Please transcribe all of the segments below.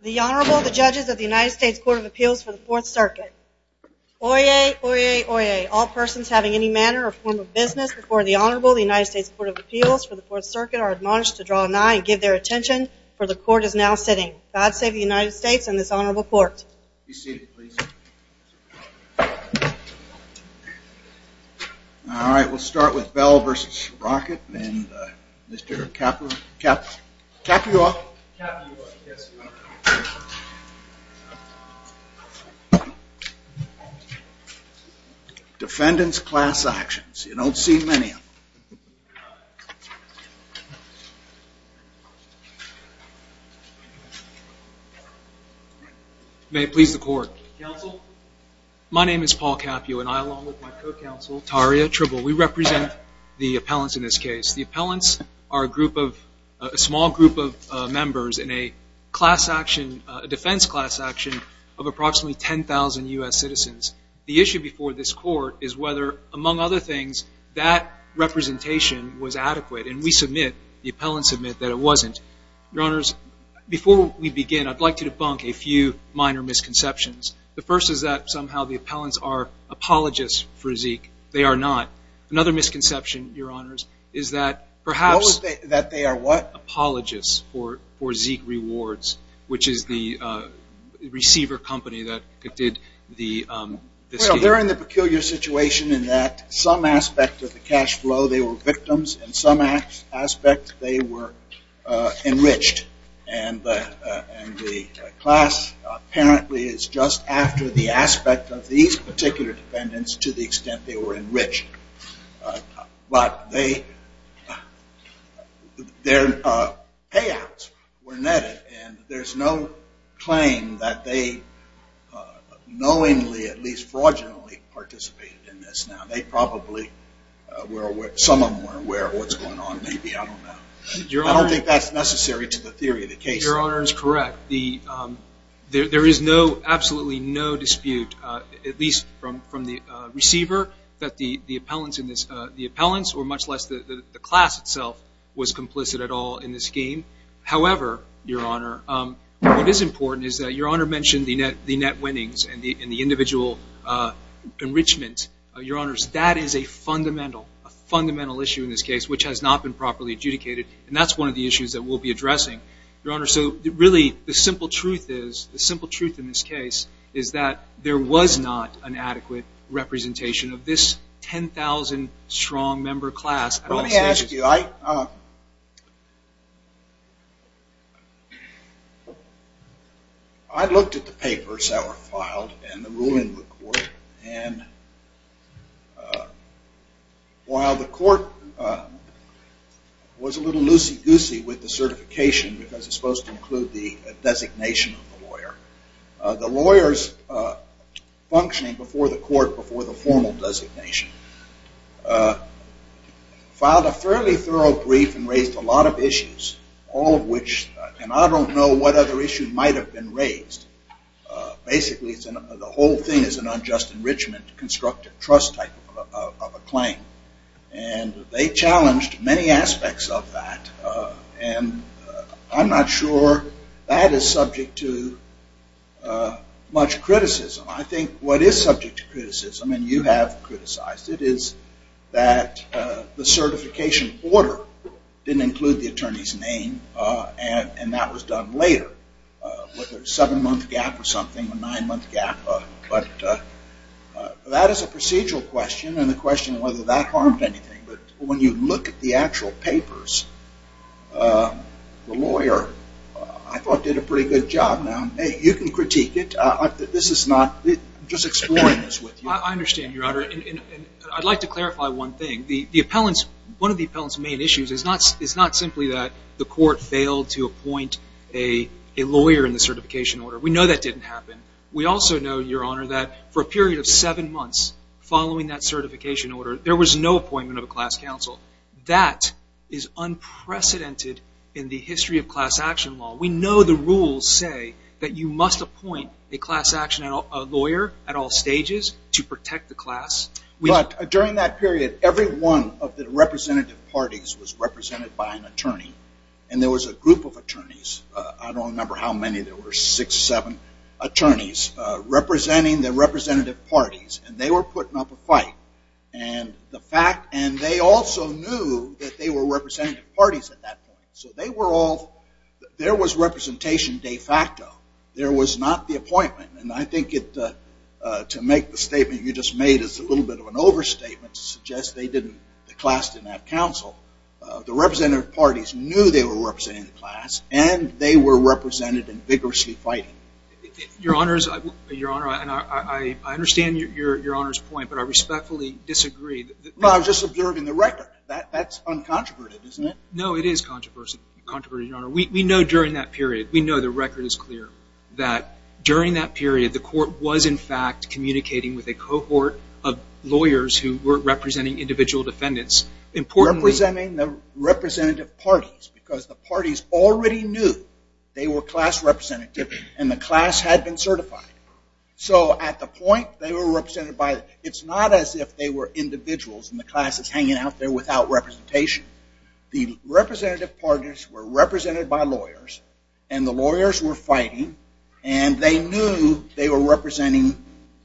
The Honorable, the Judges of the United States Court of Appeals for the Fourth Circuit. Oyez! Oyez! Oyez! All persons having any manner or form of business before the Honorable, the United States Court of Appeals for the Fourth Circuit, are admonished to draw an eye and give their attention, for the Court is now sitting. God save the United States and this Honorable Court. All right, we'll start with Bell v. Brockett and Mr. Capua. Defendants' class actions, you don't see many of them. May it please the Court. Counsel, my name is Paul Capua and I, along with my co-counsel, Taria Tribble, we represent the appellants in this case. The appellants are a group of, a small group of members in a class action, a defense class action of approximately 10,000 U.S. citizens. The issue before this Court is whether, among other things, that representation was adequate, and we submit, the appellants submit, that it wasn't. Your Honors, before we begin, I'd like to debunk a few minor misconceptions. The first is that somehow the appellants are apologists for Zeke. They are not. Another misconception, Your Honors, is that perhaps... That they are what? Apologists for Zeke Rewards, which is the receiver company that did the scheme. Well, they're in the peculiar situation in that some aspect of the cash flow, they were victims, and some aspect, they were enriched. And the class apparently is just after the aspect of these particular defendants to the extent they were enriched. But they, their payouts were netted, and there's no claim that they knowingly, at least fraudulently, participated in this. Now, they probably were aware, some of them were aware of what's going on, maybe, I don't know. Your Honor... I don't think that's necessary to the theory of the case. Your Honor is correct. There is no, absolutely no dispute, at least from the receiver, that the appellants, or much less the class itself, was complicit at all in this scheme. However, Your Honor, what is important is that Your Honor mentioned the net winnings and the individual enrichment. Your Honor, that is a fundamental, a fundamental issue in this case, which has not been properly adjudicated. And that's one of the issues that we'll be addressing. Your Honor, so really, the simple truth is, the simple truth in this case, is that there was not an adequate representation of this 10,000 strong member class. Let me ask you, I looked at the papers that were filed and the ruling of the court, and while the court was a little loosey goosey with the certification, because it's supposed to include the designation of the lawyer, the lawyers functioning before the court, before the formal designation, filed a fairly thorough brief and raised a lot of issues. All of which, and I don't know what other issues might have been raised. Basically, the whole thing is an unjust enrichment, constructive trust type of a claim. And they challenged many aspects of that. And I'm not sure that is subject to much criticism. I think what is subject to criticism, and you have criticized it, is that the certification order didn't include the attorney's name. And that was done later, with a seven month gap or something, a nine month gap. But that is a procedural question, and the question of whether that harmed anything. But when you look at the actual papers, the lawyer, I thought, did a pretty good job. You can critique it. I'm just exploring this with you. I understand, Your Honor. I'd like to clarify one thing. One of the appellant's main issues is not simply that the court failed to appoint a lawyer in the certification order. We know that didn't happen. We also know, Your Honor, that for a period of seven months following that certification order, there was no appointment of a class counsel. That is unprecedented in the history of class action law. We know the rules say that you must appoint a class action lawyer at all stages to protect the class. But during that period, every one of the representative parties was represented by an attorney. And there was a group of attorneys. I don't remember how many there were, six, seven attorneys, representing the representative parties. And they were putting up a fight. And they also knew that they were representative parties at that point. So there was representation de facto. There was not the appointment. And I think to make the statement you just made is a little bit of an overstatement to suggest the class didn't have counsel. The representative parties knew they were representing the class, and they were represented and vigorously fighting. Your Honor, I understand Your Honor's point, but I respectfully disagree. Well, I was just observing the record. That's uncontroverted, isn't it? No, it is controverted, Your Honor. We know during that period, we know the record is clear, that during that period, the court was, in fact, communicating with a cohort of lawyers who were representing individual defendants. Representing the representative parties, because the parties already knew they were class representative, and the class had been certified. So at the point, they were represented by, it's not as if they were individuals and the class is hanging out there without representation. The representative parties were represented by lawyers, and the lawyers were fighting, and they knew they were representing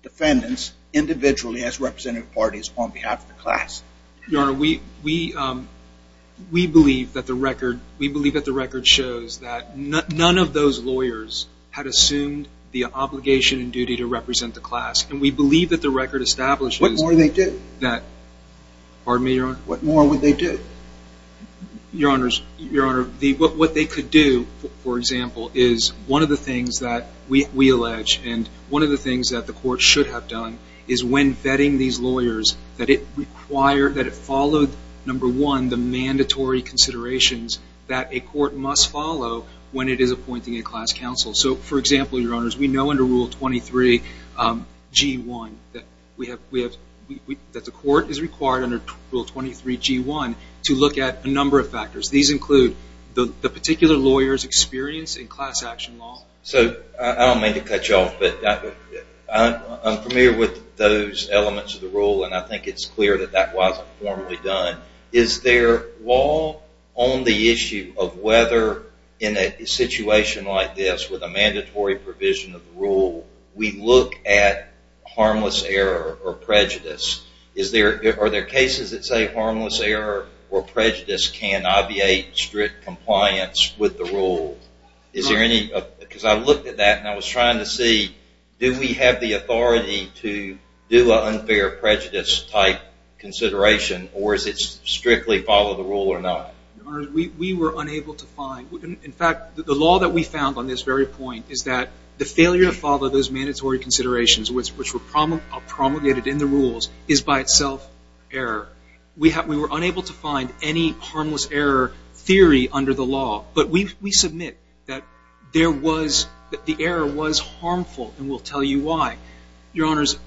defendants individually as representative parties on behalf of the class. Your Honor, we believe that the record shows that none of those lawyers had assumed the obligation and duty to represent the class. And we believe that the record establishes that. What more would they do? Pardon me, Your Honor? What more would they do? Your Honor, what they could do, for example, is one of the things that we allege, and one of the things that the court should have done, is when vetting these lawyers, that it required, that it followed, number one, the mandatory considerations that a court must follow when it is appointing a class counsel. So, for example, Your Honors, we know under Rule 23G1 that the court is required under Rule 23G1 to look at a number of factors. These include the particular lawyer's experience in class action law. So I don't mean to cut you off, but I'm familiar with those elements of the rule, and I think it's clear that that wasn't formally done. Is there law on the issue of whether in a situation like this with a mandatory provision of the rule, we look at harmless error or prejudice? Are there cases that say harmless error or prejudice can obviate strict compliance with the rule? Because I looked at that, and I was trying to see, do we have the authority to do an unfair prejudice-type consideration, or does it strictly follow the rule or not? Your Honors, we were unable to find. In fact, the law that we found on this very point is that the failure to follow those mandatory considerations, which were promulgated in the rules, is by itself error. We were unable to find any harmless error theory under the law, but we submit that the error was harmful, and we'll tell you why. Your Honors,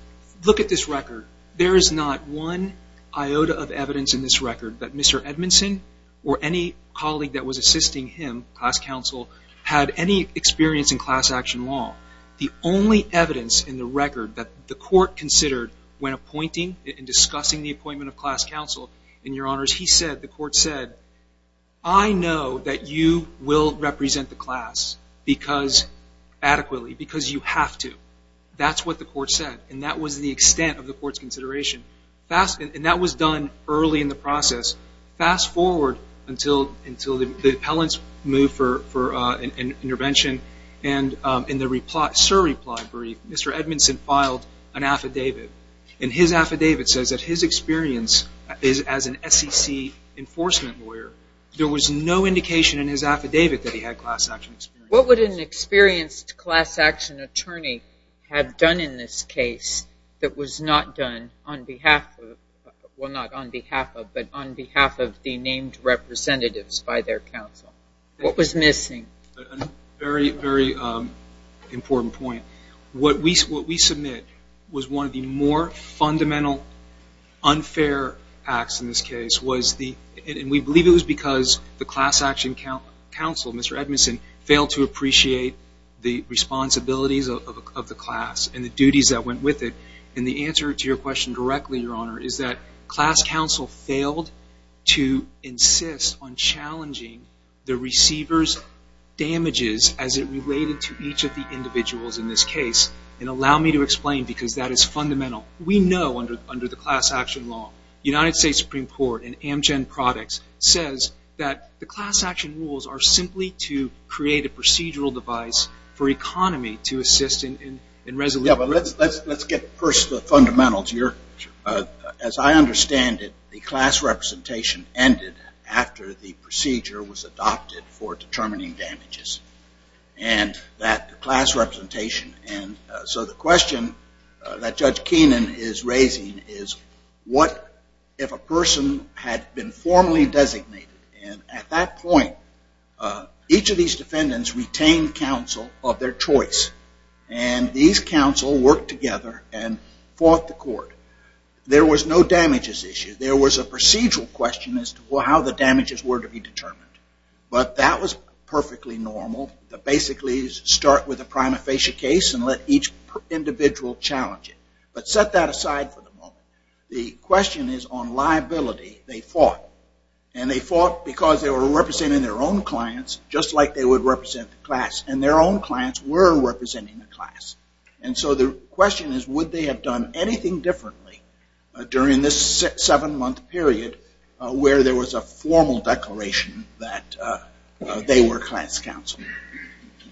look at this record. There is not one iota of evidence in this record that Mr. Edmondson or any colleague that was assisting him, class counsel, had any experience in class action law. The only evidence in the record that the Court considered when appointing and discussing the appointment of class counsel, and Your Honors, he said, the Court said, I know that you will represent the class adequately because you have to. That's what the Court said, and that was the extent of the Court's consideration. And that was done early in the process. Fast forward until the appellant's move for intervention, and in the SIR reply brief, Mr. Edmondson filed an affidavit, and his affidavit says that his experience as an SEC enforcement lawyer, there was no indication in his affidavit that he had class action experience. What would an experienced class action attorney have done in this case that was not done on behalf of, well, not on behalf of, but on behalf of the named representatives by their counsel? What was missing? A very, very important point. What we submit was one of the more fundamental unfair acts in this case was the, and we believe it was because the class action counsel, Mr. Edmondson, failed to appreciate the responsibilities of the class and the duties that went with it. And the answer to your question directly, Your Honor, is that class counsel failed to insist on challenging the receiver's damages as it related to each of the individuals in this case. And allow me to explain because that is fundamental. We know under the class action law, United States Supreme Court and Amgen products says that the class action rules are simply to create a procedural device for economy to assist in resolution. Yeah, but let's get first the fundamentals. As I understand it, the class representation ended after the procedure was adopted for determining damages. And that class representation. And so the question that Judge Keenan is raising is what if a person had been formally designated and at that point each of these defendants retained counsel of their choice and these counsel worked together and fought the court. There was no damages issue. There was a procedural question as to how the damages were to be determined. But that was perfectly normal to basically start with a prima facie case and let each individual challenge it. But set that aside for the moment. The question is on liability they fought. And they fought because they were representing their own clients just like they would represent the class. And their own clients were representing the class. And so the question is would they have done anything differently during this seven-month period where there was a formal declaration that they were class counsel.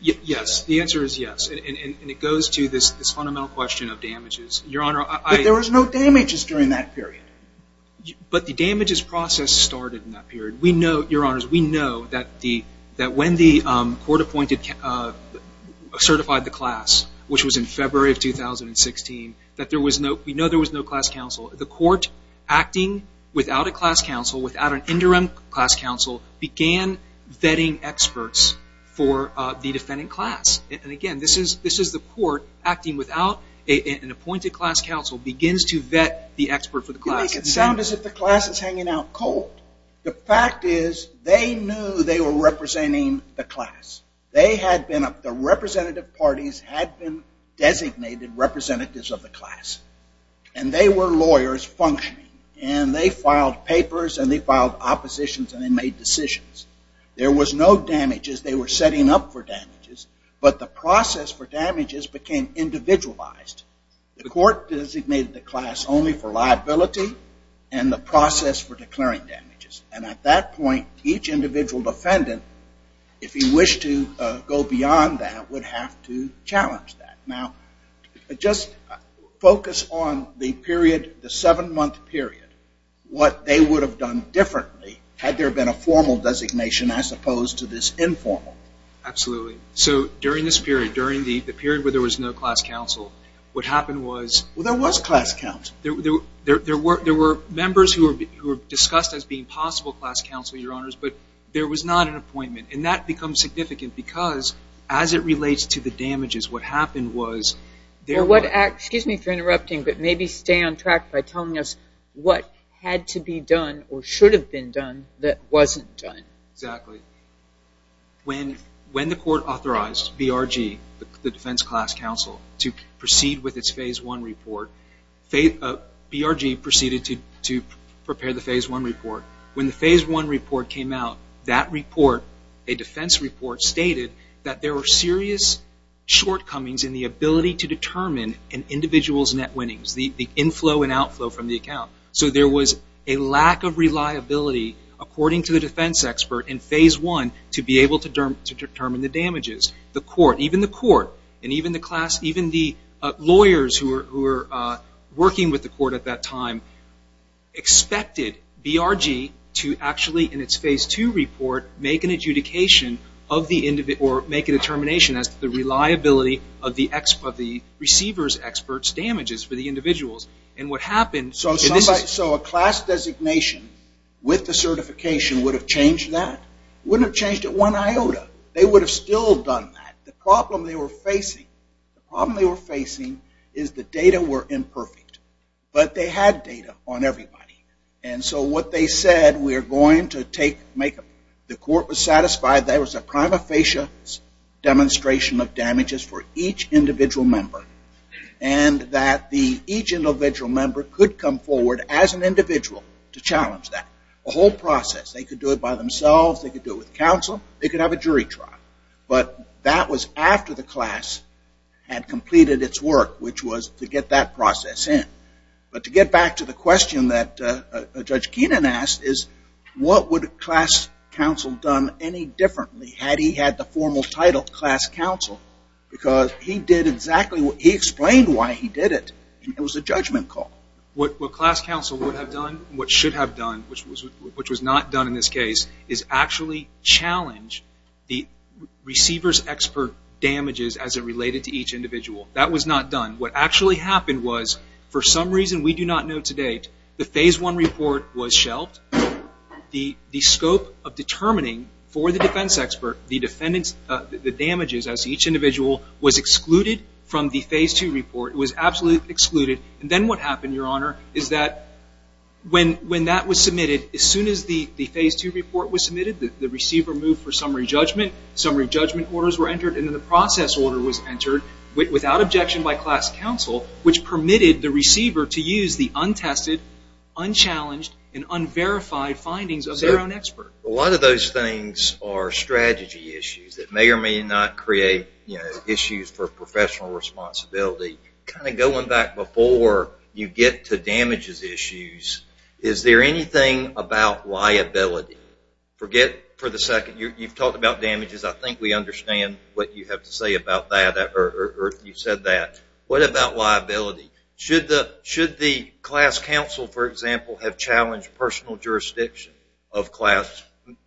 Yes, the answer is yes. And it goes to this fundamental question of damages. But there was no damages during that period. But the damages process started in that period. Your Honors, we know that when the court certified the class, which was in February of 2016, we know there was no class counsel. The court acting without a class counsel, without an interim class counsel, began vetting experts for the defendant class. And again, this is the court acting without an appointed class counsel, begins to vet the expert for the class. It sounds as if the class is hanging out cold. The fact is they knew they were representing the class. The representative parties had been designated representatives of the class. And they were lawyers functioning. And they filed papers and they filed oppositions and they made decisions. There was no damages. They were setting up for damages. But the process for damages became individualized. The court designated the class only for liability and the process for declaring damages. And at that point, each individual defendant, if he wished to go beyond that, would have to challenge that. Now, just focus on the period, the seven-month period, what they would have done differently had there been a formal designation as opposed to this informal. Absolutely. So during this period, during the period where there was no class counsel, what happened was there were members who were discussed as being possible class counsel, Your Honors, but there was not an appointment. And that becomes significant because as it relates to the damages, what happened was there were... Excuse me for interrupting, but maybe stay on track by telling us what had to be done or should have been done that wasn't done. Exactly. When the court authorized BRG, the defense class counsel, to proceed with its Phase I report, BRG proceeded to prepare the Phase I report. When the Phase I report came out, that report, a defense report, stated that there were serious shortcomings in the ability to determine an individual's net winnings, the inflow and outflow from the account. So there was a lack of reliability, according to the defense expert in Phase I, to be able to determine the damages. The court, even the court and even the lawyers who were working with the court at that time, expected BRG to actually, in its Phase II report, make a determination as to the reliability of the receiver's expert's damages for the individuals. So a class designation with the certification would have changed that? It wouldn't have changed it one iota. They would have still done that. The problem they were facing is the data were imperfect. But they had data on everybody. And so what they said, we are going to take, make, the court was satisfied there was a prima facie demonstration of damages for each individual member. And that each individual member could come forward as an individual to challenge that. A whole process. They could do it by themselves. They could do it with counsel. They could have a jury trial. But that was after the class had completed its work, which was to get that process in. But to get back to the question that Judge Keenan asked is, what would class counsel have done any differently had he had the formal title class counsel? Because he did exactly, he explained why he did it. It was a judgment call. What class counsel would have done, what should have done, which was not done in this case, is actually challenge the receiver's expert damages as it related to each individual. That was not done. What actually happened was, for some reason we do not know to date, the Phase I report was shelved. The scope of determining for the defense expert the damages as each individual was excluded from the Phase II report. It was absolutely excluded. Then what happened, Your Honor, is that when that was submitted, as soon as the Phase II report was submitted, the receiver moved for summary judgment. Summary judgment orders were entered, and then the process order was entered, without objection by class counsel, which permitted the receiver to use the untested, unchallenged, and unverified findings of their own expert. A lot of those things are strategy issues that may or may not create issues for professional responsibility. Kind of going back before you get to damages issues, is there anything about liability? Forget for a second, you've talked about damages. I think we understand what you have to say about that, or you said that. What about liability? Should the class counsel, for example, have challenged personal jurisdiction of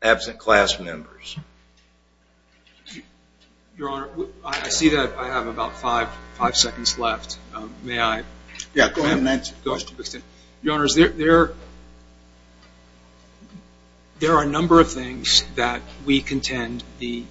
absent class members? Your Honor, I see that I have about five seconds left. May I? Yeah, go ahead and answer. Your Honor, there are a number of things that we contend the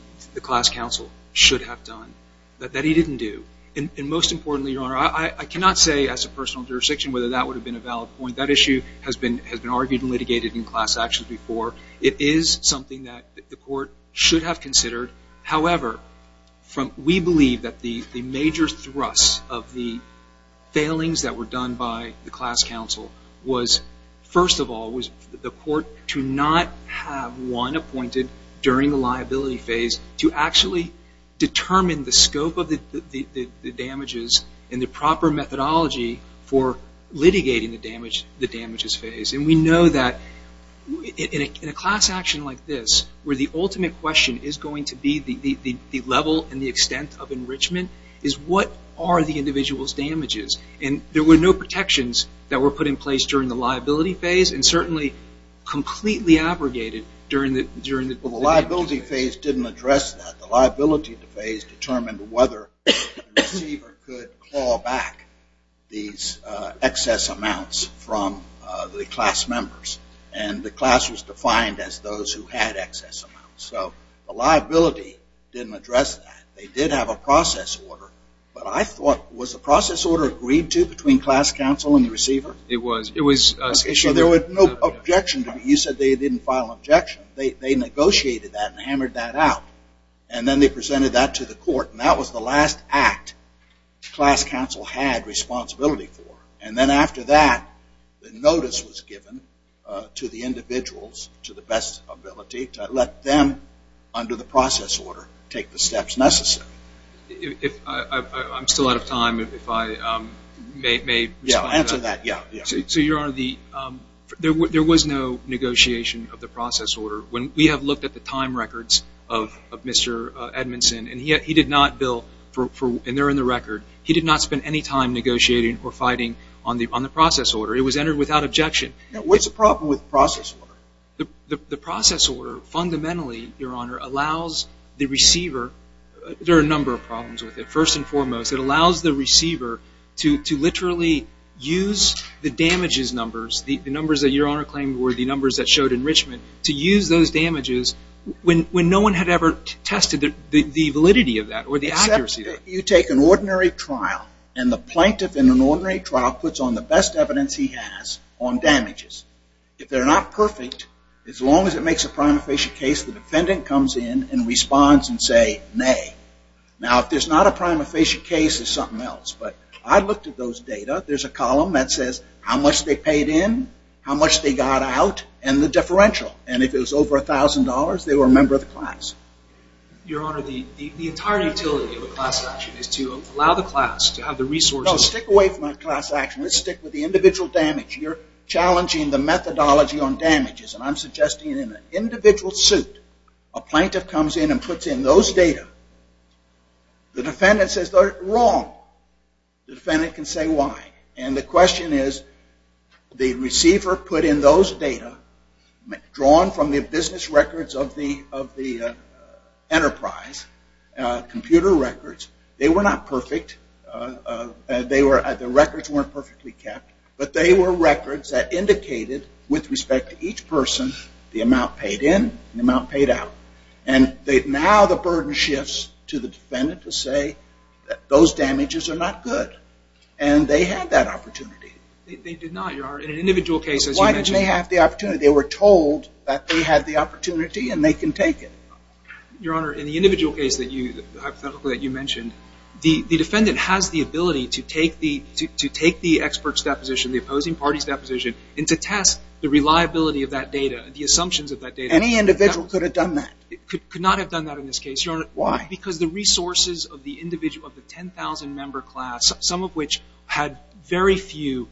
class counsel should have done that he didn't do. And most importantly, Your Honor, I cannot say as a personal jurisdiction whether that would have been a valid point. That issue has been argued and litigated in class actions before. It is something that the court should have considered. However, we believe that the major thrust of the failings that were done by the class counsel was, first of all, the court to not have one appointed during the liability phase to actually determine the scope of the damages and the proper methodology for litigating the damages phase. And we know that in a class action like this, where the ultimate question is going to be the level and the extent of enrichment, is what are the individual's damages? And there were no protections that were put in place during the liability phase and certainly completely abrogated during the damages phase. Well, the liability phase didn't address that. The liability phase determined whether the receiver could claw back these excess amounts from the class members. And the class was defined as those who had excess amounts. So the liability didn't address that. They did have a process order. But I thought, was the process order agreed to between class counsel and the receiver? It was. So there was no objection to it. You said they didn't file an objection. They negotiated that and hammered that out. And then they presented that to the court. And that was the last act class counsel had responsibility for. And then after that, the notice was given to the individuals to the best ability to let them, under the process order, take the steps necessary. I'm still out of time. Yeah, answer that. Yeah. So, Your Honor, there was no negotiation of the process order. We have looked at the time records of Mr. Edmondson. And he did not, Bill, and they're in the record, he did not spend any time negotiating or fighting on the process order. It was entered without objection. Now, what's the problem with the process order? The process order, fundamentally, Your Honor, allows the receiver, there are a number of problems with it. First and foremost, it allows the receiver to literally use the damages numbers, the numbers that Your Honor claimed were the numbers that showed enrichment, to use those damages when no one had ever tested the validity of that or the accuracy of that. You take an ordinary trial, and the plaintiff in an ordinary trial puts on the best evidence he has on damages. If they're not perfect, as long as it makes a prima facie case, the defendant comes in and responds and say, nay. Now, if there's not a prima facie case, there's something else. But I looked at those data. There's a column that says how much they paid in, how much they got out, and the differential. And if it was over $1,000, they were a member of the class. Your Honor, the entire utility of a class action is to allow the class to have the resources. No, stick away from that class action. Let's stick with the individual damage. You're challenging the methodology on damages, and I'm suggesting in an individual suit, a plaintiff comes in and puts in those data. The defendant says they're wrong. The defendant can say why. And the question is, the receiver put in those data, drawn from the business records of the enterprise, computer records, they were not perfect. The records weren't perfectly kept, but they were records that indicated, with respect to each person, the amount paid in, the amount paid out. And now the burden shifts to the defendant to say that those damages are not good. And they had that opportunity. They did not, Your Honor. In an individual case, as you mentioned. But why didn't they have the opportunity? They were told that they had the opportunity and they can take it. Your Honor, in the individual case that you mentioned, the defendant has the ability to take the expert's deposition, the opposing party's deposition, and to test the reliability of that data, the assumptions of that data. Any individual could have done that? Could not have done that in this case, Your Honor. Why? Because the resources of the individual, of the 10,000-member class, some of which had very few.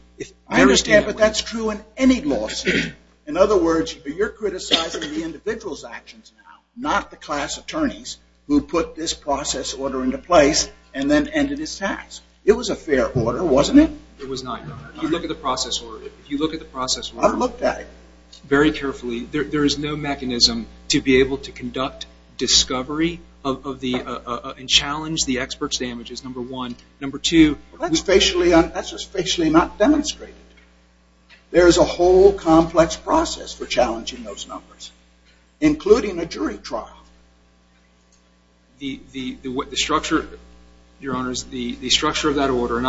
I understand, but that's true in any lawsuit. In other words, you're criticizing the individual's actions now, not the class attorney's, who put this process order into place and then ended his tax. It was a fair order, wasn't it? It was not, Your Honor. If you look at the process order, if you look at the process order very carefully, there is no mechanism to be able to conduct discovery and challenge the expert's damages, number one. Number two, that's just facially not demonstrated. There is a whole complex process for challenging those numbers, including a jury trial. The structure, Your Honors, the structure of that order,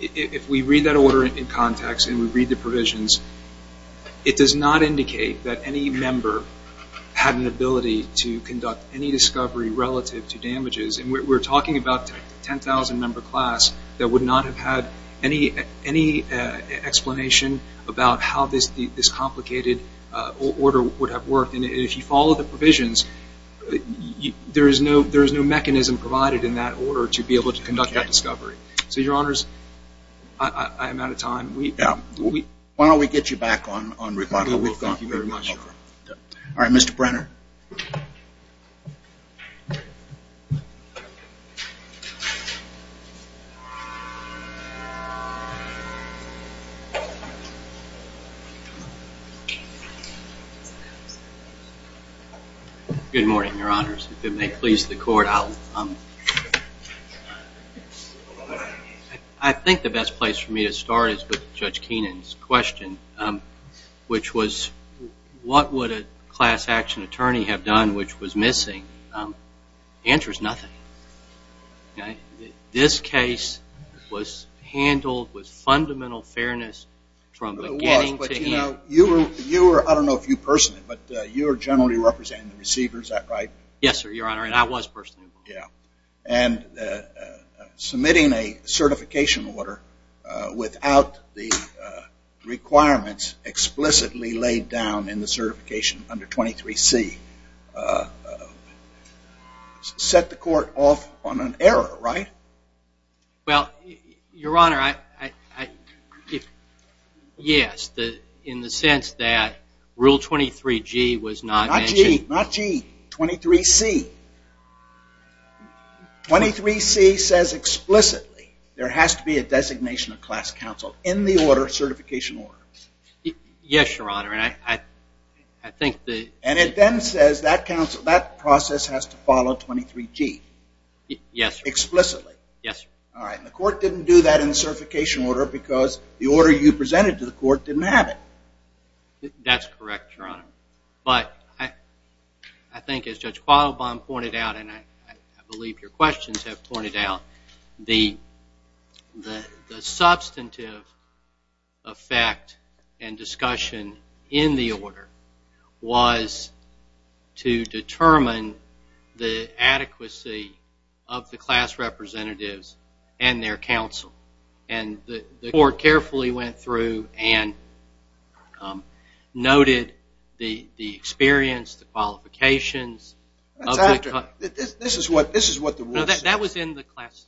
if we read that order in context and we read the provisions, it does not indicate that any member had an ability to conduct any discovery relative to damages. We're talking about a 10,000-member class that would not have had any explanation about how this complicated order would have worked. And if you follow the provisions, there is no mechanism provided in that order to be able to conduct that discovery. So, Your Honors, I am out of time. Yeah. Why don't we get you back on rebuttal? We will. Thank you very much. All right, Mr. Brenner. Good morning, Your Honors. If it may please the Court, I think the best place for me to start is with Judge Keenan's question, which was what would a class action attorney have done which was missing? The answer is nothing. This case was handled with fundamental fairness from beginning to end. You were, I don't know if you personed it, but you were generally representing the receiver, is that right? Yes, sir, Your Honor, and I was personable. Yeah. And submitting a certification order without the requirements explicitly laid down in the certification under 23C set the Court off on an error, right? Well, Your Honor, yes, in the sense that Rule 23G was not mentioned. Not G, not G, 23C. 23C says explicitly there has to be a designation of class counsel in the order, certification order. Yes, Your Honor, and I think that And it then says that process has to follow 23G. Yes, sir. Explicitly. Yes, sir. All right, and the Court didn't do that in the certification order because the order you presented to the Court didn't have it. That's correct, Your Honor, but I think as Judge Quattlebaum pointed out, and I believe your questions have pointed out, the substantive effect and discussion in the order was to determine the adequacy of the class representatives and their counsel. And the Court carefully went through and noted the experience, the qualifications. This is what the rule says. That was in the class,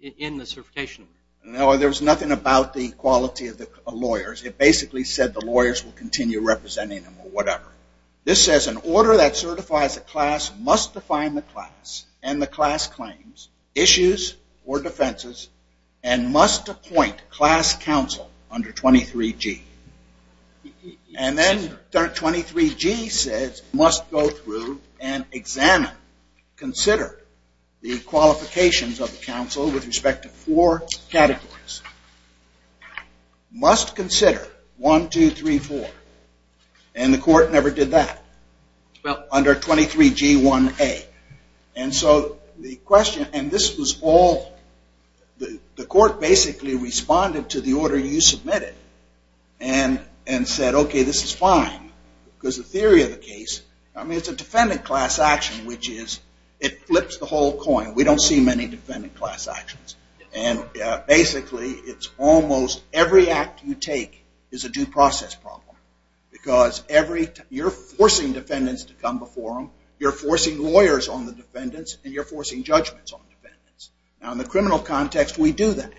in the certification order. No, there was nothing about the quality of the lawyers. It basically said the lawyers will continue representing them or whatever. This says an order that certifies a class must define the class and the class claims, issues, or defenses, and must appoint class counsel under 23G. And then 23G says must go through and examine, consider the qualifications of the counsel with respect to four categories. Must consider 1, 2, 3, 4. And the Court never did that under 23G1A. And so the question, and this was all, the Court basically responded to the order you submitted and said, okay, this is fine, because the theory of the case, I mean, it's a defendant class action, which is it flips the whole coin. We don't see many defendant class actions. And basically it's almost every act you take is a due process problem because you're forcing defendants to come before them, you're forcing lawyers on the defendants, and you're forcing judgments on the defendants. Now, in the criminal context, we do that.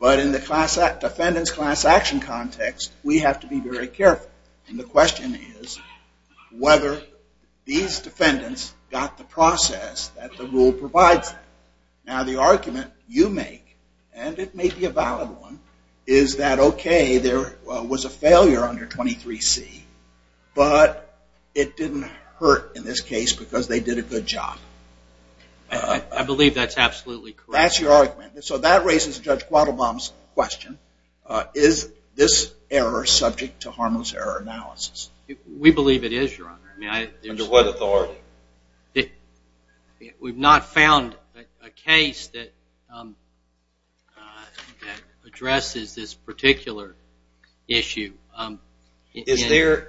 But in the defendants class action context, we have to be very careful. And the question is whether these defendants got the process that the rule provides them. Now, the argument you make, and it may be a valid one, is that, okay, there was a failure under 23C, but it didn't hurt in this case because they did a good job. I believe that's absolutely correct. That's your argument. So that raises Judge Quattlebaum's question. Is this error subject to harmless error analysis? We believe it is, Your Honor. Under what authority? We've not found a case that addresses this particular issue. Is there?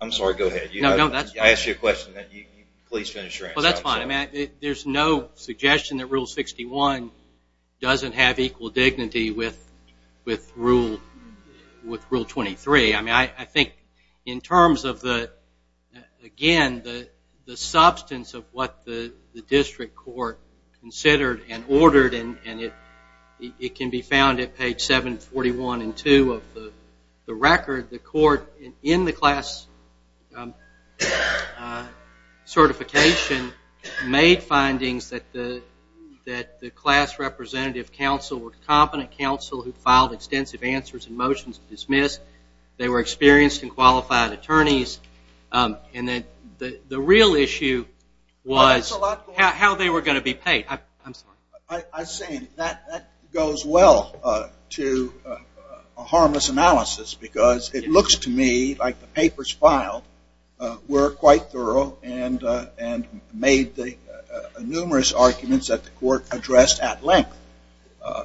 I'm sorry, go ahead. I asked you a question. Please finish your answer. Well, that's fine. There's no suggestion that Rule 61 doesn't have equal dignity with Rule 23. I mean, I think in terms of the, again, the substance of what the district court considered and ordered, and it can be found at page 741 and 2 of the record, the court in the class certification made findings that the class representative counsel were a competent counsel who filed extensive answers and motions to dismiss. They were experienced and qualified attorneys. And the real issue was how they were going to be paid. I'm sorry. I see. That goes well to a harmless analysis because it looks to me like the papers filed were quite thorough and made numerous arguments that the court addressed at length.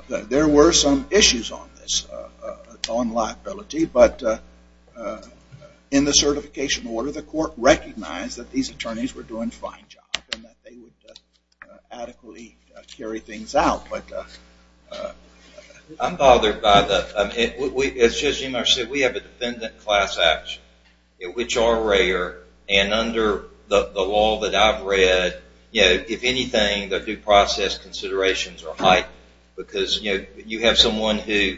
There were some issues on this, on liability. But in the certification order, the court recognized that these attorneys were doing a fine job and that they would adequately carry things out. I'm bothered by that. We have a defendant class action, which are rare. And under the law that I've read, if anything, the due process considerations are high because you have someone who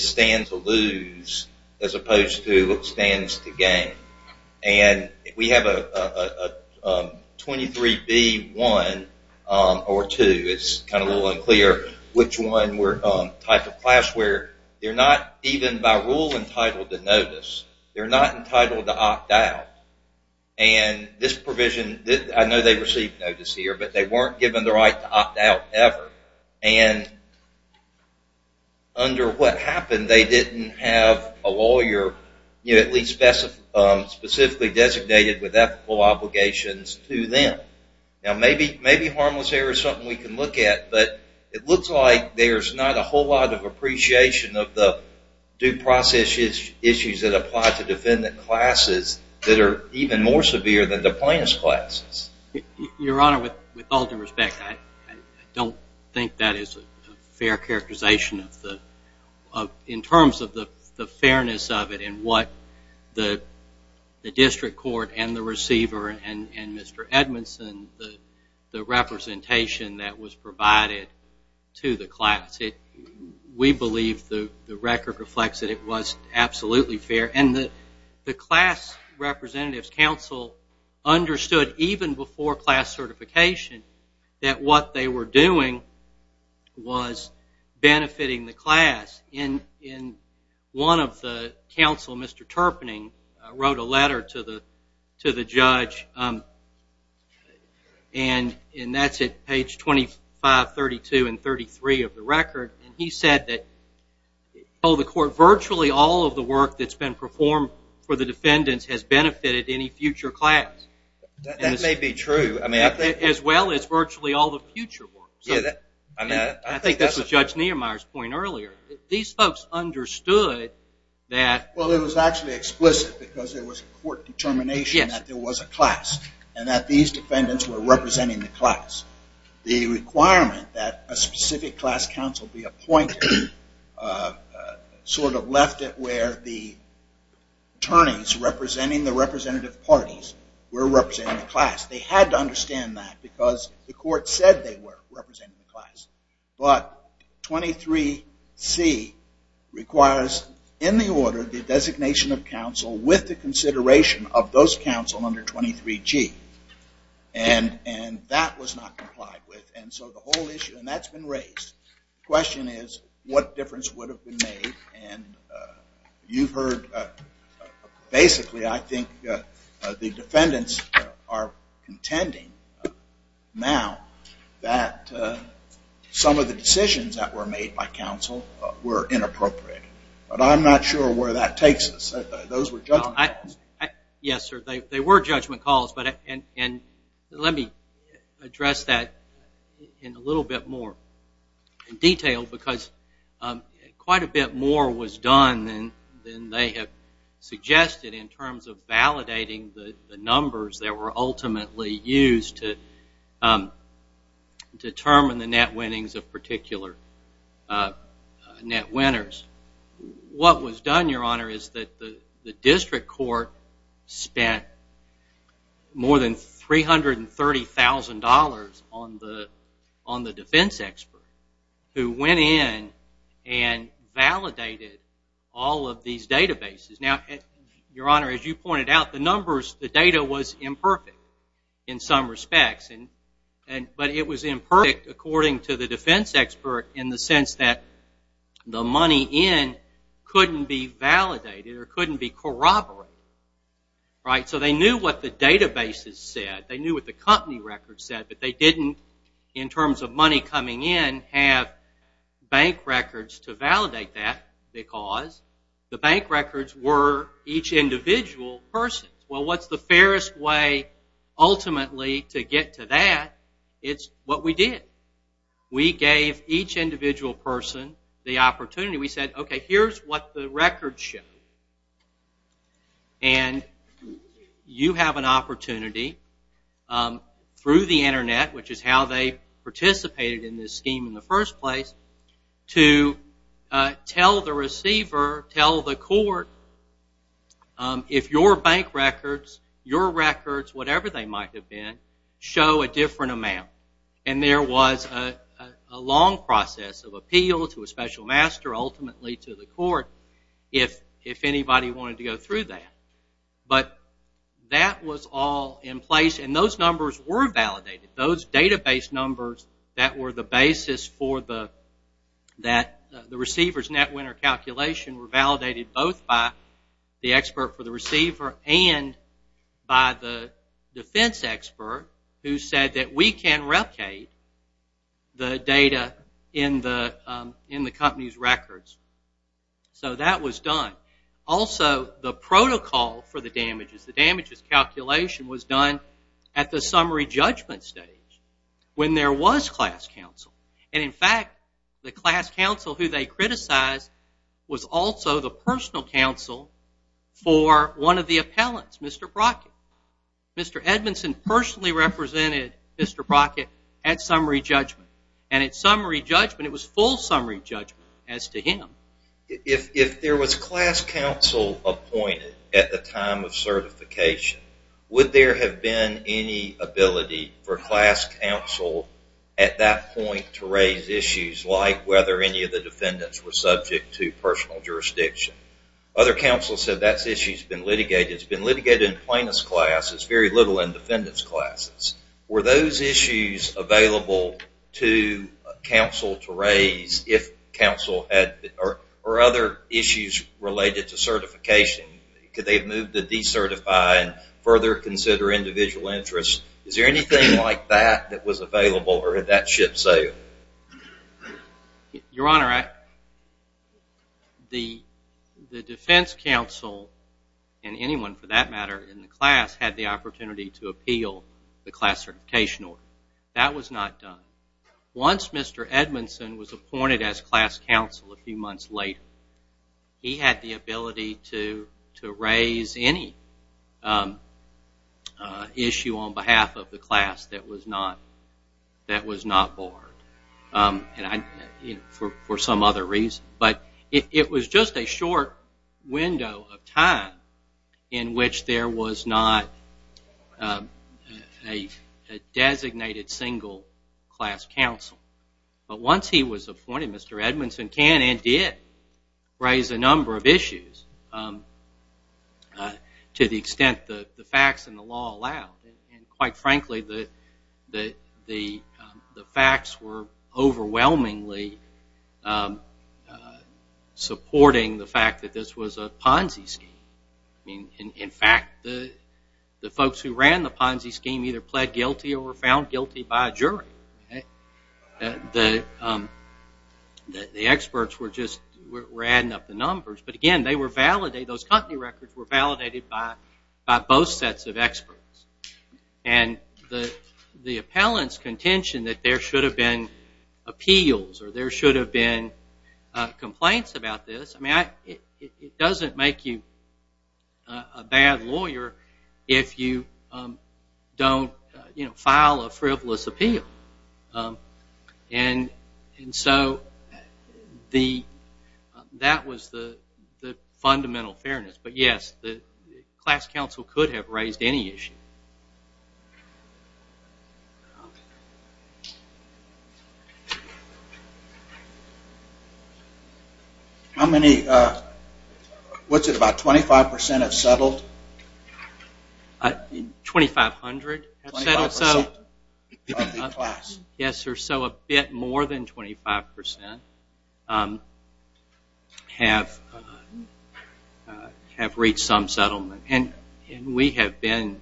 stands to lose as opposed to stands to gain. And we have a 23B1 or 2. It's kind of a little unclear which one type of class where they're not even by rule entitled to notice. They're not entitled to opt out. And this provision, I know they received notice here, but they weren't given the right to opt out ever. And under what happened, they didn't have a lawyer at least specifically designated with ethical obligations to them. Now, maybe harmless error is something we can look at, but it looks like there's not a whole lot of appreciation of the due process issues that apply to defendant classes that are even more severe than the plaintiff's classes. Your Honor, with all due respect, I don't think that is a fair characterization in terms of the fairness of it and what the district court and the receiver and Mr. Edmondson, the representation that was provided to the class. We believe the record reflects that it was absolutely fair. And the class representative's counsel understood even before class certification that what they were doing was benefiting the class. And one of the counsel, Mr. Terpening, wrote a letter to the judge, and that's at page 25, 32, and 33 of the record. And he said that virtually all of the work that's been performed for the defendants has benefited any future class. That may be true. As well as virtually all the future work. I think that's what Judge Niemeyer's point earlier. These folks understood that. Well, it was actually explicit because it was a court determination that there was a class and that these defendants were representing the class. The requirement that a specific class counsel be appointed sort of left it where the attorneys representing the representative parties were representing the class. They had to understand that because the court said they were representing the class. But 23C requires in the order the designation of counsel with the consideration of those counsel under 23G. And that was not complied with. And so the whole issue, and that's been raised. The question is what difference would have been made. And you've heard basically I think the defendants are contending now that some of the decisions that were made by counsel were inappropriate. But I'm not sure where that takes us. Those were judgment calls. And let me address that in a little bit more detail because quite a bit more was done than they have suggested in terms of validating the numbers that were ultimately used to determine the net winnings of particular net winners. What was done, Your Honor, is that the district court spent more than $330,000 on the defense expert who went in and validated all of these databases. Now, Your Honor, as you pointed out, the numbers, the data was imperfect in some respects. But it was imperfect according to the defense expert in the sense that the money in couldn't be validated or couldn't be corroborated. So they knew what the databases said. They knew what the company records said. But they didn't, in terms of money coming in, have bank records to validate that because the bank records were each individual person's. Well, what's the fairest way ultimately to get to that? It's what we did. We gave each individual person the opportunity. We said, okay, here's what the records show. And you have an opportunity through the Internet, which is how they participated in this scheme in the first place, to tell the receiver, tell the court, if your bank records, your records, whatever they might have been, show a different amount. And there was a long process of appeal to a special master, ultimately to the court, if anybody wanted to go through that. But that was all in place. And those numbers were validated. Those database numbers that were the basis for the receiver's net winner calculation were validated both by the expert for the receiver and by the defense expert who said that we can replicate the data in the company's records. So that was done. Also, the protocol for the damages, the damages calculation was done at the summary judgment stage when there was class counsel. And, in fact, the class counsel who they criticized was also the personal counsel for one of the appellants, Mr. Brockett. Mr. Edmondson personally represented Mr. Brockett at summary judgment. And at summary judgment, it was full summary judgment as to him. If there was class counsel appointed at the time of certification, would there have been any ability for class counsel at that point to raise issues like whether any of the defendants were subject to personal jurisdiction? Other counsel said that issue's been litigated. It's been litigated in plaintiff's classes, very little in defendant's classes. Were those issues available to counsel to raise or other issues related to certification? Could they have moved to decertify and further consider individual interests? Is there anything like that that was available or did that ship sail? Your Honor, the defense counsel and anyone, for that matter, in the class had the opportunity to appeal the class certification order. That was not done. Once Mr. Edmondson was appointed as class counsel a few months later, he had the ability to raise any issue on behalf of the class that was not barred for some other reason. But it was just a short window of time in which there was not a designated single class counsel. But once he was appointed, Mr. Edmondson can and did raise a number of issues to the extent the facts and the law allowed. Quite frankly, the facts were overwhelmingly supporting the fact that this was a Ponzi scheme. In fact, the folks who ran the Ponzi scheme either pled guilty or were found guilty by a jury. The experts were just adding up the numbers. But again, those company records were validated by both sets of experts. And the appellant's contention that there should have been appeals or there should have been complaints about this, it doesn't make you a bad lawyer if you don't file a frivolous appeal. And so that was the fundamental fairness. But yes, the class counsel could have raised any issue. How many, what's it, about 25% have settled? 2,500 have settled. So a bit more than 25% have reached some settlement. And we have been,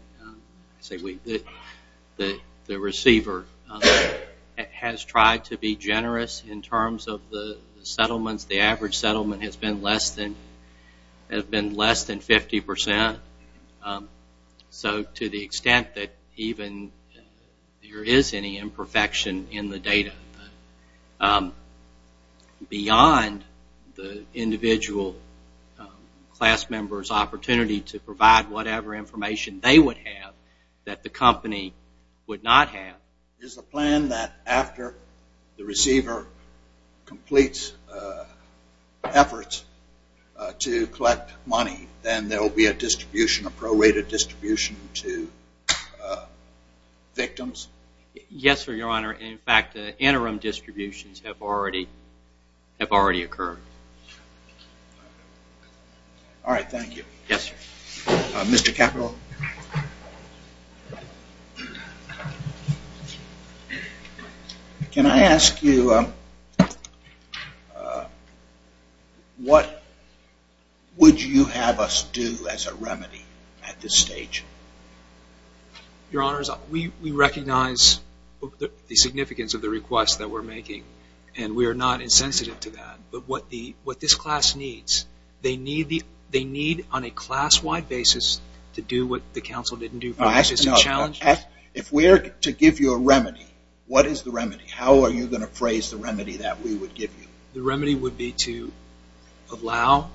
the receiver has tried to be generous in terms of the settlements. The average settlement has been less than 50%. So to the extent that even there is any imperfection in the data, beyond the individual class member's opportunity to provide whatever information they would have that the company would not have. Is the plan that after the receiver completes efforts to collect money, then there will be a distribution, a prorated distribution to victims? Yes, sir, Your Honor. And in fact, the interim distributions have already occurred. All right, thank you. Yes, sir. Mr. Capito, can I ask you what would you have us do as a remedy at this stage? Your Honor, we recognize the significance of the request that we're making. And we are not insensitive to that. But what this class needs, they need on a class-wide basis to do what the counsel didn't do. If we're to give you a remedy, what is the remedy? How are you going to phrase the remedy that we would give you? The remedy would be to allow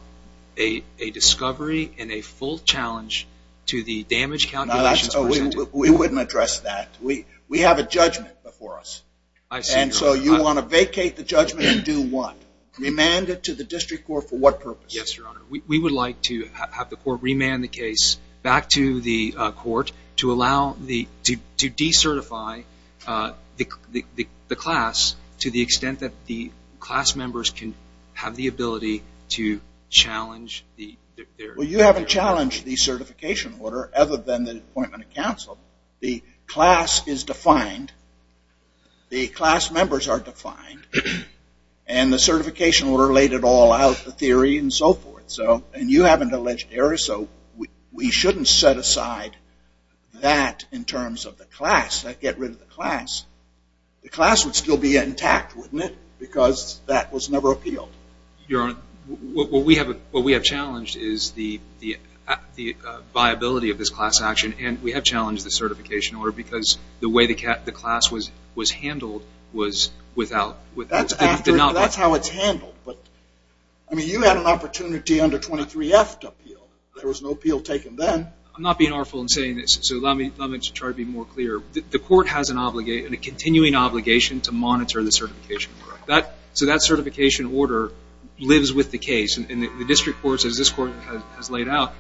a discovery and a full challenge to the damage calculations presented. We wouldn't address that. We have a judgment before us. I see, Your Honor. And so you want to vacate the judgment and do what? Remand it to the district court for what purpose? Yes, Your Honor. We would like to have the court remand the case back to the court to decertify the class to the extent that the class members can have the ability to challenge the theory. Well, you haven't challenged the certification order, other than the appointment of counsel. The class is defined. The class members are defined. And the certification order laid it all out, the theory and so forth. And you haven't alleged errors. So we shouldn't set aside that in terms of the class, that get rid of the class. The class would still be intact, wouldn't it? Because that was never appealed. Your Honor, what we have challenged is the viability of this class action. And we have challenged the certification order because the way the class was handled was without. That's how it's handled. I mean, you had an opportunity under 23F to appeal. There was no appeal taken then. I'm not being artful in saying this, so allow me to try to be more clear. The court has a continuing obligation to monitor the certification order. So that certification order lives with the case. And the district court, as this court has laid out,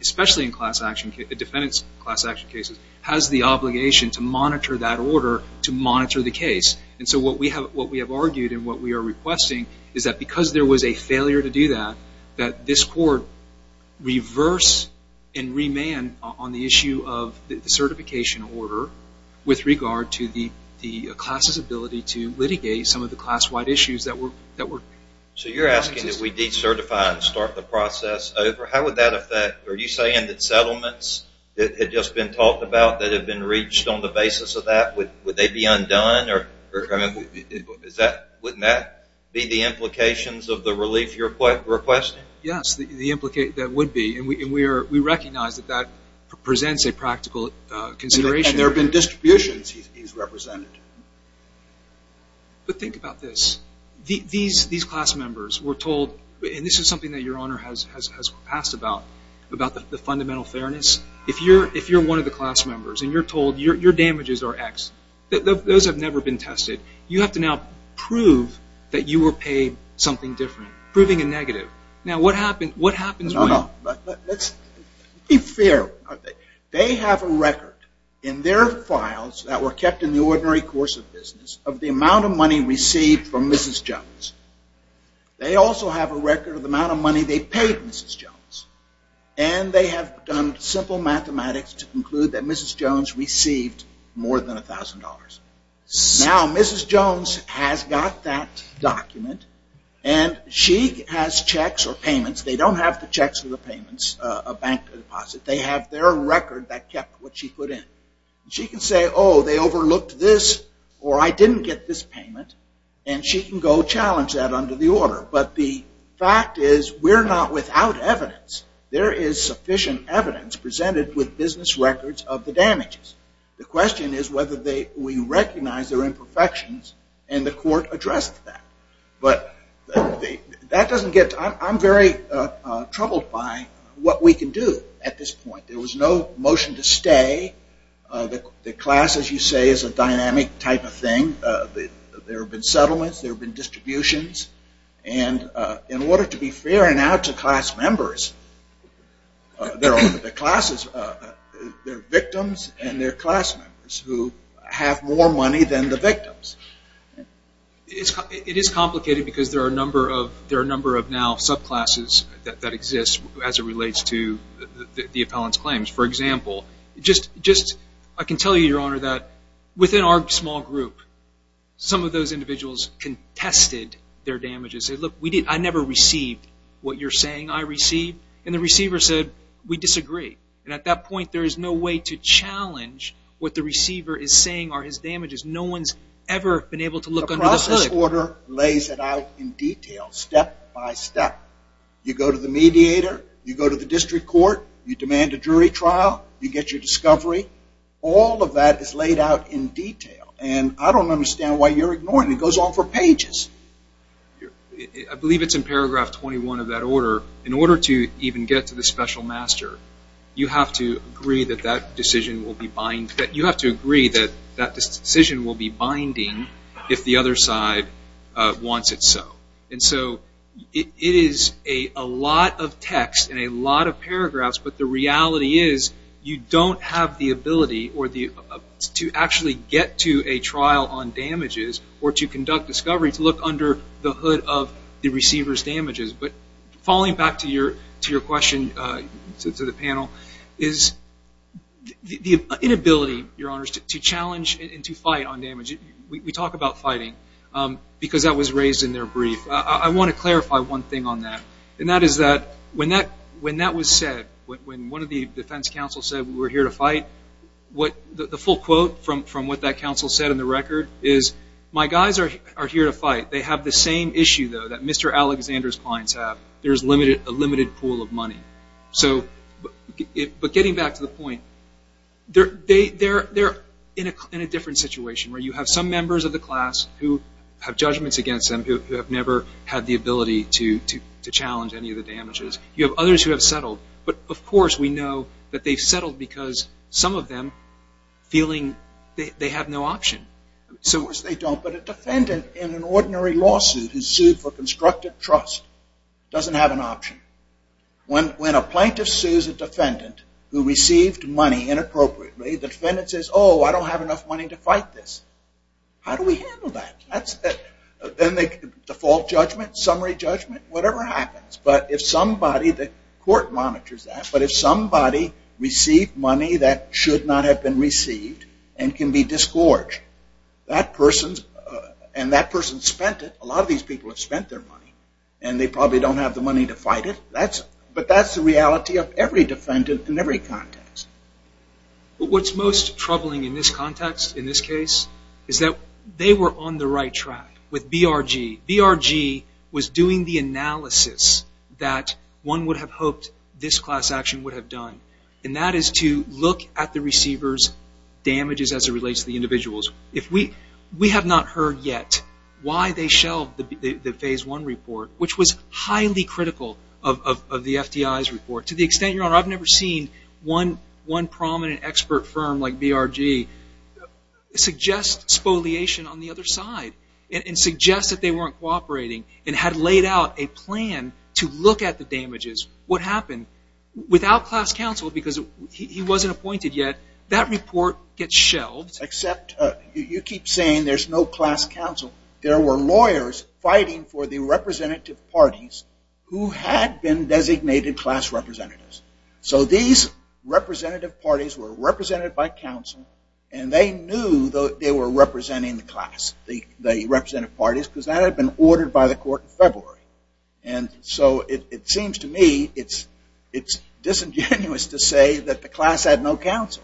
especially in class action cases, defendant's class action cases, has the obligation to monitor that order to monitor the case. And so what we have argued and what we are requesting is that because there was a failure to do that, that this court reverse and remand on the issue of the certification order with regard to the class's ability to litigate some of the class-wide issues that were... So you're asking that we decertify and start the process over. How would that affect... Are you saying that settlements that had just been talked about that had been reached on the basis of that, would they be undone? Wouldn't that be the implications of the relief you're requesting? Yes, that would be. And we recognize that that presents a practical consideration. And there have been distributions he's represented. But think about this. These class members were told, and this is something that Your Honor has asked about, about the fundamental fairness. If you're one of the class members and you're told your damages are X, those have never been tested, you have to now prove that you were paid something different. Proving a negative. Now what happens when... Let's be fair. They have a record in their files that were kept in the ordinary course of business of the amount of money received from Mrs. Jones. They also have a record of the amount of money they paid Mrs. Jones. And they have done simple mathematics to conclude that Mrs. Jones received more than $1,000. Now Mrs. Jones has got that document and she has checks or payments. They don't have the checks or the payments, a bank deposit. They have their record that kept what she put in. She can say, oh, they overlooked this, or I didn't get this payment. And she can go challenge that under the order. But the fact is we're not without evidence. There is sufficient evidence presented with business records of the damages. The question is whether we recognize their imperfections and the court addressed that. But that doesn't get... I'm very troubled by what we can do at this point. There was no motion to stay. The class, as you say, is a dynamic type of thing. There have been settlements. There have been distributions. And in order to be fair and out to class members, there are victims and there are class members who have more money than the victims. It is complicated because there are a number of now subclasses that exist as it relates to the appellant's claims. For example, I can tell you, Your Honor, that within our small group, some of those individuals contested their damages. They said, look, I never received what you're saying I received. And the receiver said, we disagree. And at that point, there is no way to challenge what the receiver is saying are his damages. No one's ever been able to look under the hood. The process order lays it out in detail, step by step. You go to the mediator. You go to the district court. You get your discovery. All of that is laid out in detail. And I don't understand why you're ignoring it. It goes on for pages. I believe it's in paragraph 21 of that order. In order to even get to the special master, you have to agree that that decision will be binding if the other side wants it so. And so it is a lot of text and a lot of paragraphs, but the reality is you don't have the ability to actually get to a trial on damages or to conduct discovery to look under the hood of the receiver's damages. But falling back to your question to the panel is the inability, Your Honors, to challenge and to fight on damages. We talk about fighting because that was raised in their brief. I want to clarify one thing on that, and that is that when that was said, when one of the defense counsels said, we're here to fight, the full quote from what that counsel said in the record is, my guys are here to fight. They have the same issue, though, that Mr. Alexander's clients have. There's a limited pool of money. But getting back to the point, they're in a different situation where you have some members of the class who have judgments against them, You have others who have settled. But of course we know that they've settled because some of them feeling they have no option. Of course they don't, but a defendant in an ordinary lawsuit who's sued for constructive trust doesn't have an option. When a plaintiff sues a defendant who received money inappropriately, the defendant says, oh, I don't have enough money to fight this. How do we handle that? Default judgment, summary judgment, whatever happens. But if somebody, the court monitors that, but if somebody received money that should not have been received and can be disgorged, and that person spent it, a lot of these people have spent their money and they probably don't have the money to fight it, but that's the reality of every defendant in every context. What's most troubling in this context, in this case, is that they were on the right track with BRG. BRG was doing the analysis that one would have hoped this class action would have done, and that is to look at the receiver's damages as it relates to the individuals. We have not heard yet why they shelved the Phase 1 report, which was highly critical of the FDI's report. To the extent, Your Honor, I've never seen one prominent expert firm like BRG suggest spoliation on the other side and suggest that they weren't cooperating and had laid out a plan to look at the damages. What happened? Without class counsel, because he wasn't appointed yet, that report gets shelved. Except, you keep saying there's no class counsel. There were lawyers fighting for the representative parties who had been designated class representatives. So these representative parties were represented by counsel and they knew they were representing the class, the representative parties, because that had been ordered by the court in February. So it seems to me it's disingenuous to say that the class had no counsel.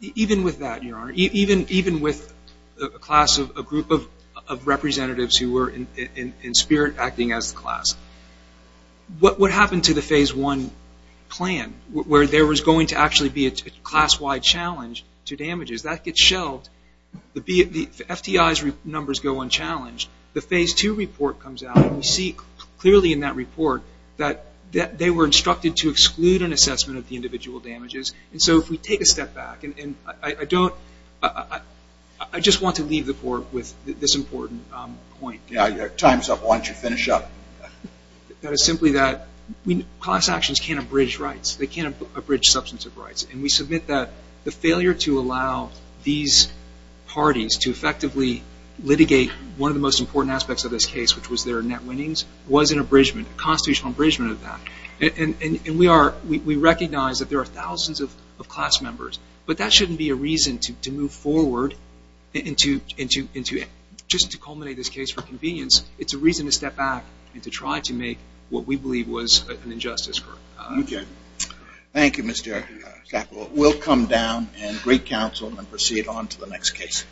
Even with that, Your Honor, even with a group of representatives who were in spirit acting as the class, what happened to the Phase 1 plan where there was going to actually be a class-wide challenge to damages? That gets shelved. The FTI's numbers go unchallenged. The Phase 2 report comes out and we see clearly in that report that they were instructed to exclude an assessment of the individual damages. So if we take a step back, I just want to leave the court with this important point. Time's up. Why don't you finish up? That is simply that class actions can't abridge rights. They can't abridge substantive rights. And we submit that the failure to allow these parties to effectively litigate one of the most important aspects of this case, which was their net winnings, was an abridgement, a constitutional abridgement of that. And we recognize that there are thousands of class members, but that shouldn't be a reason to move forward and to, just to culminate this case for convenience, it's a reason to step back and to try to make what we believe was an injustice. Thank you, Mr. Shackel. We'll come down and greet counsel and proceed on to the next case.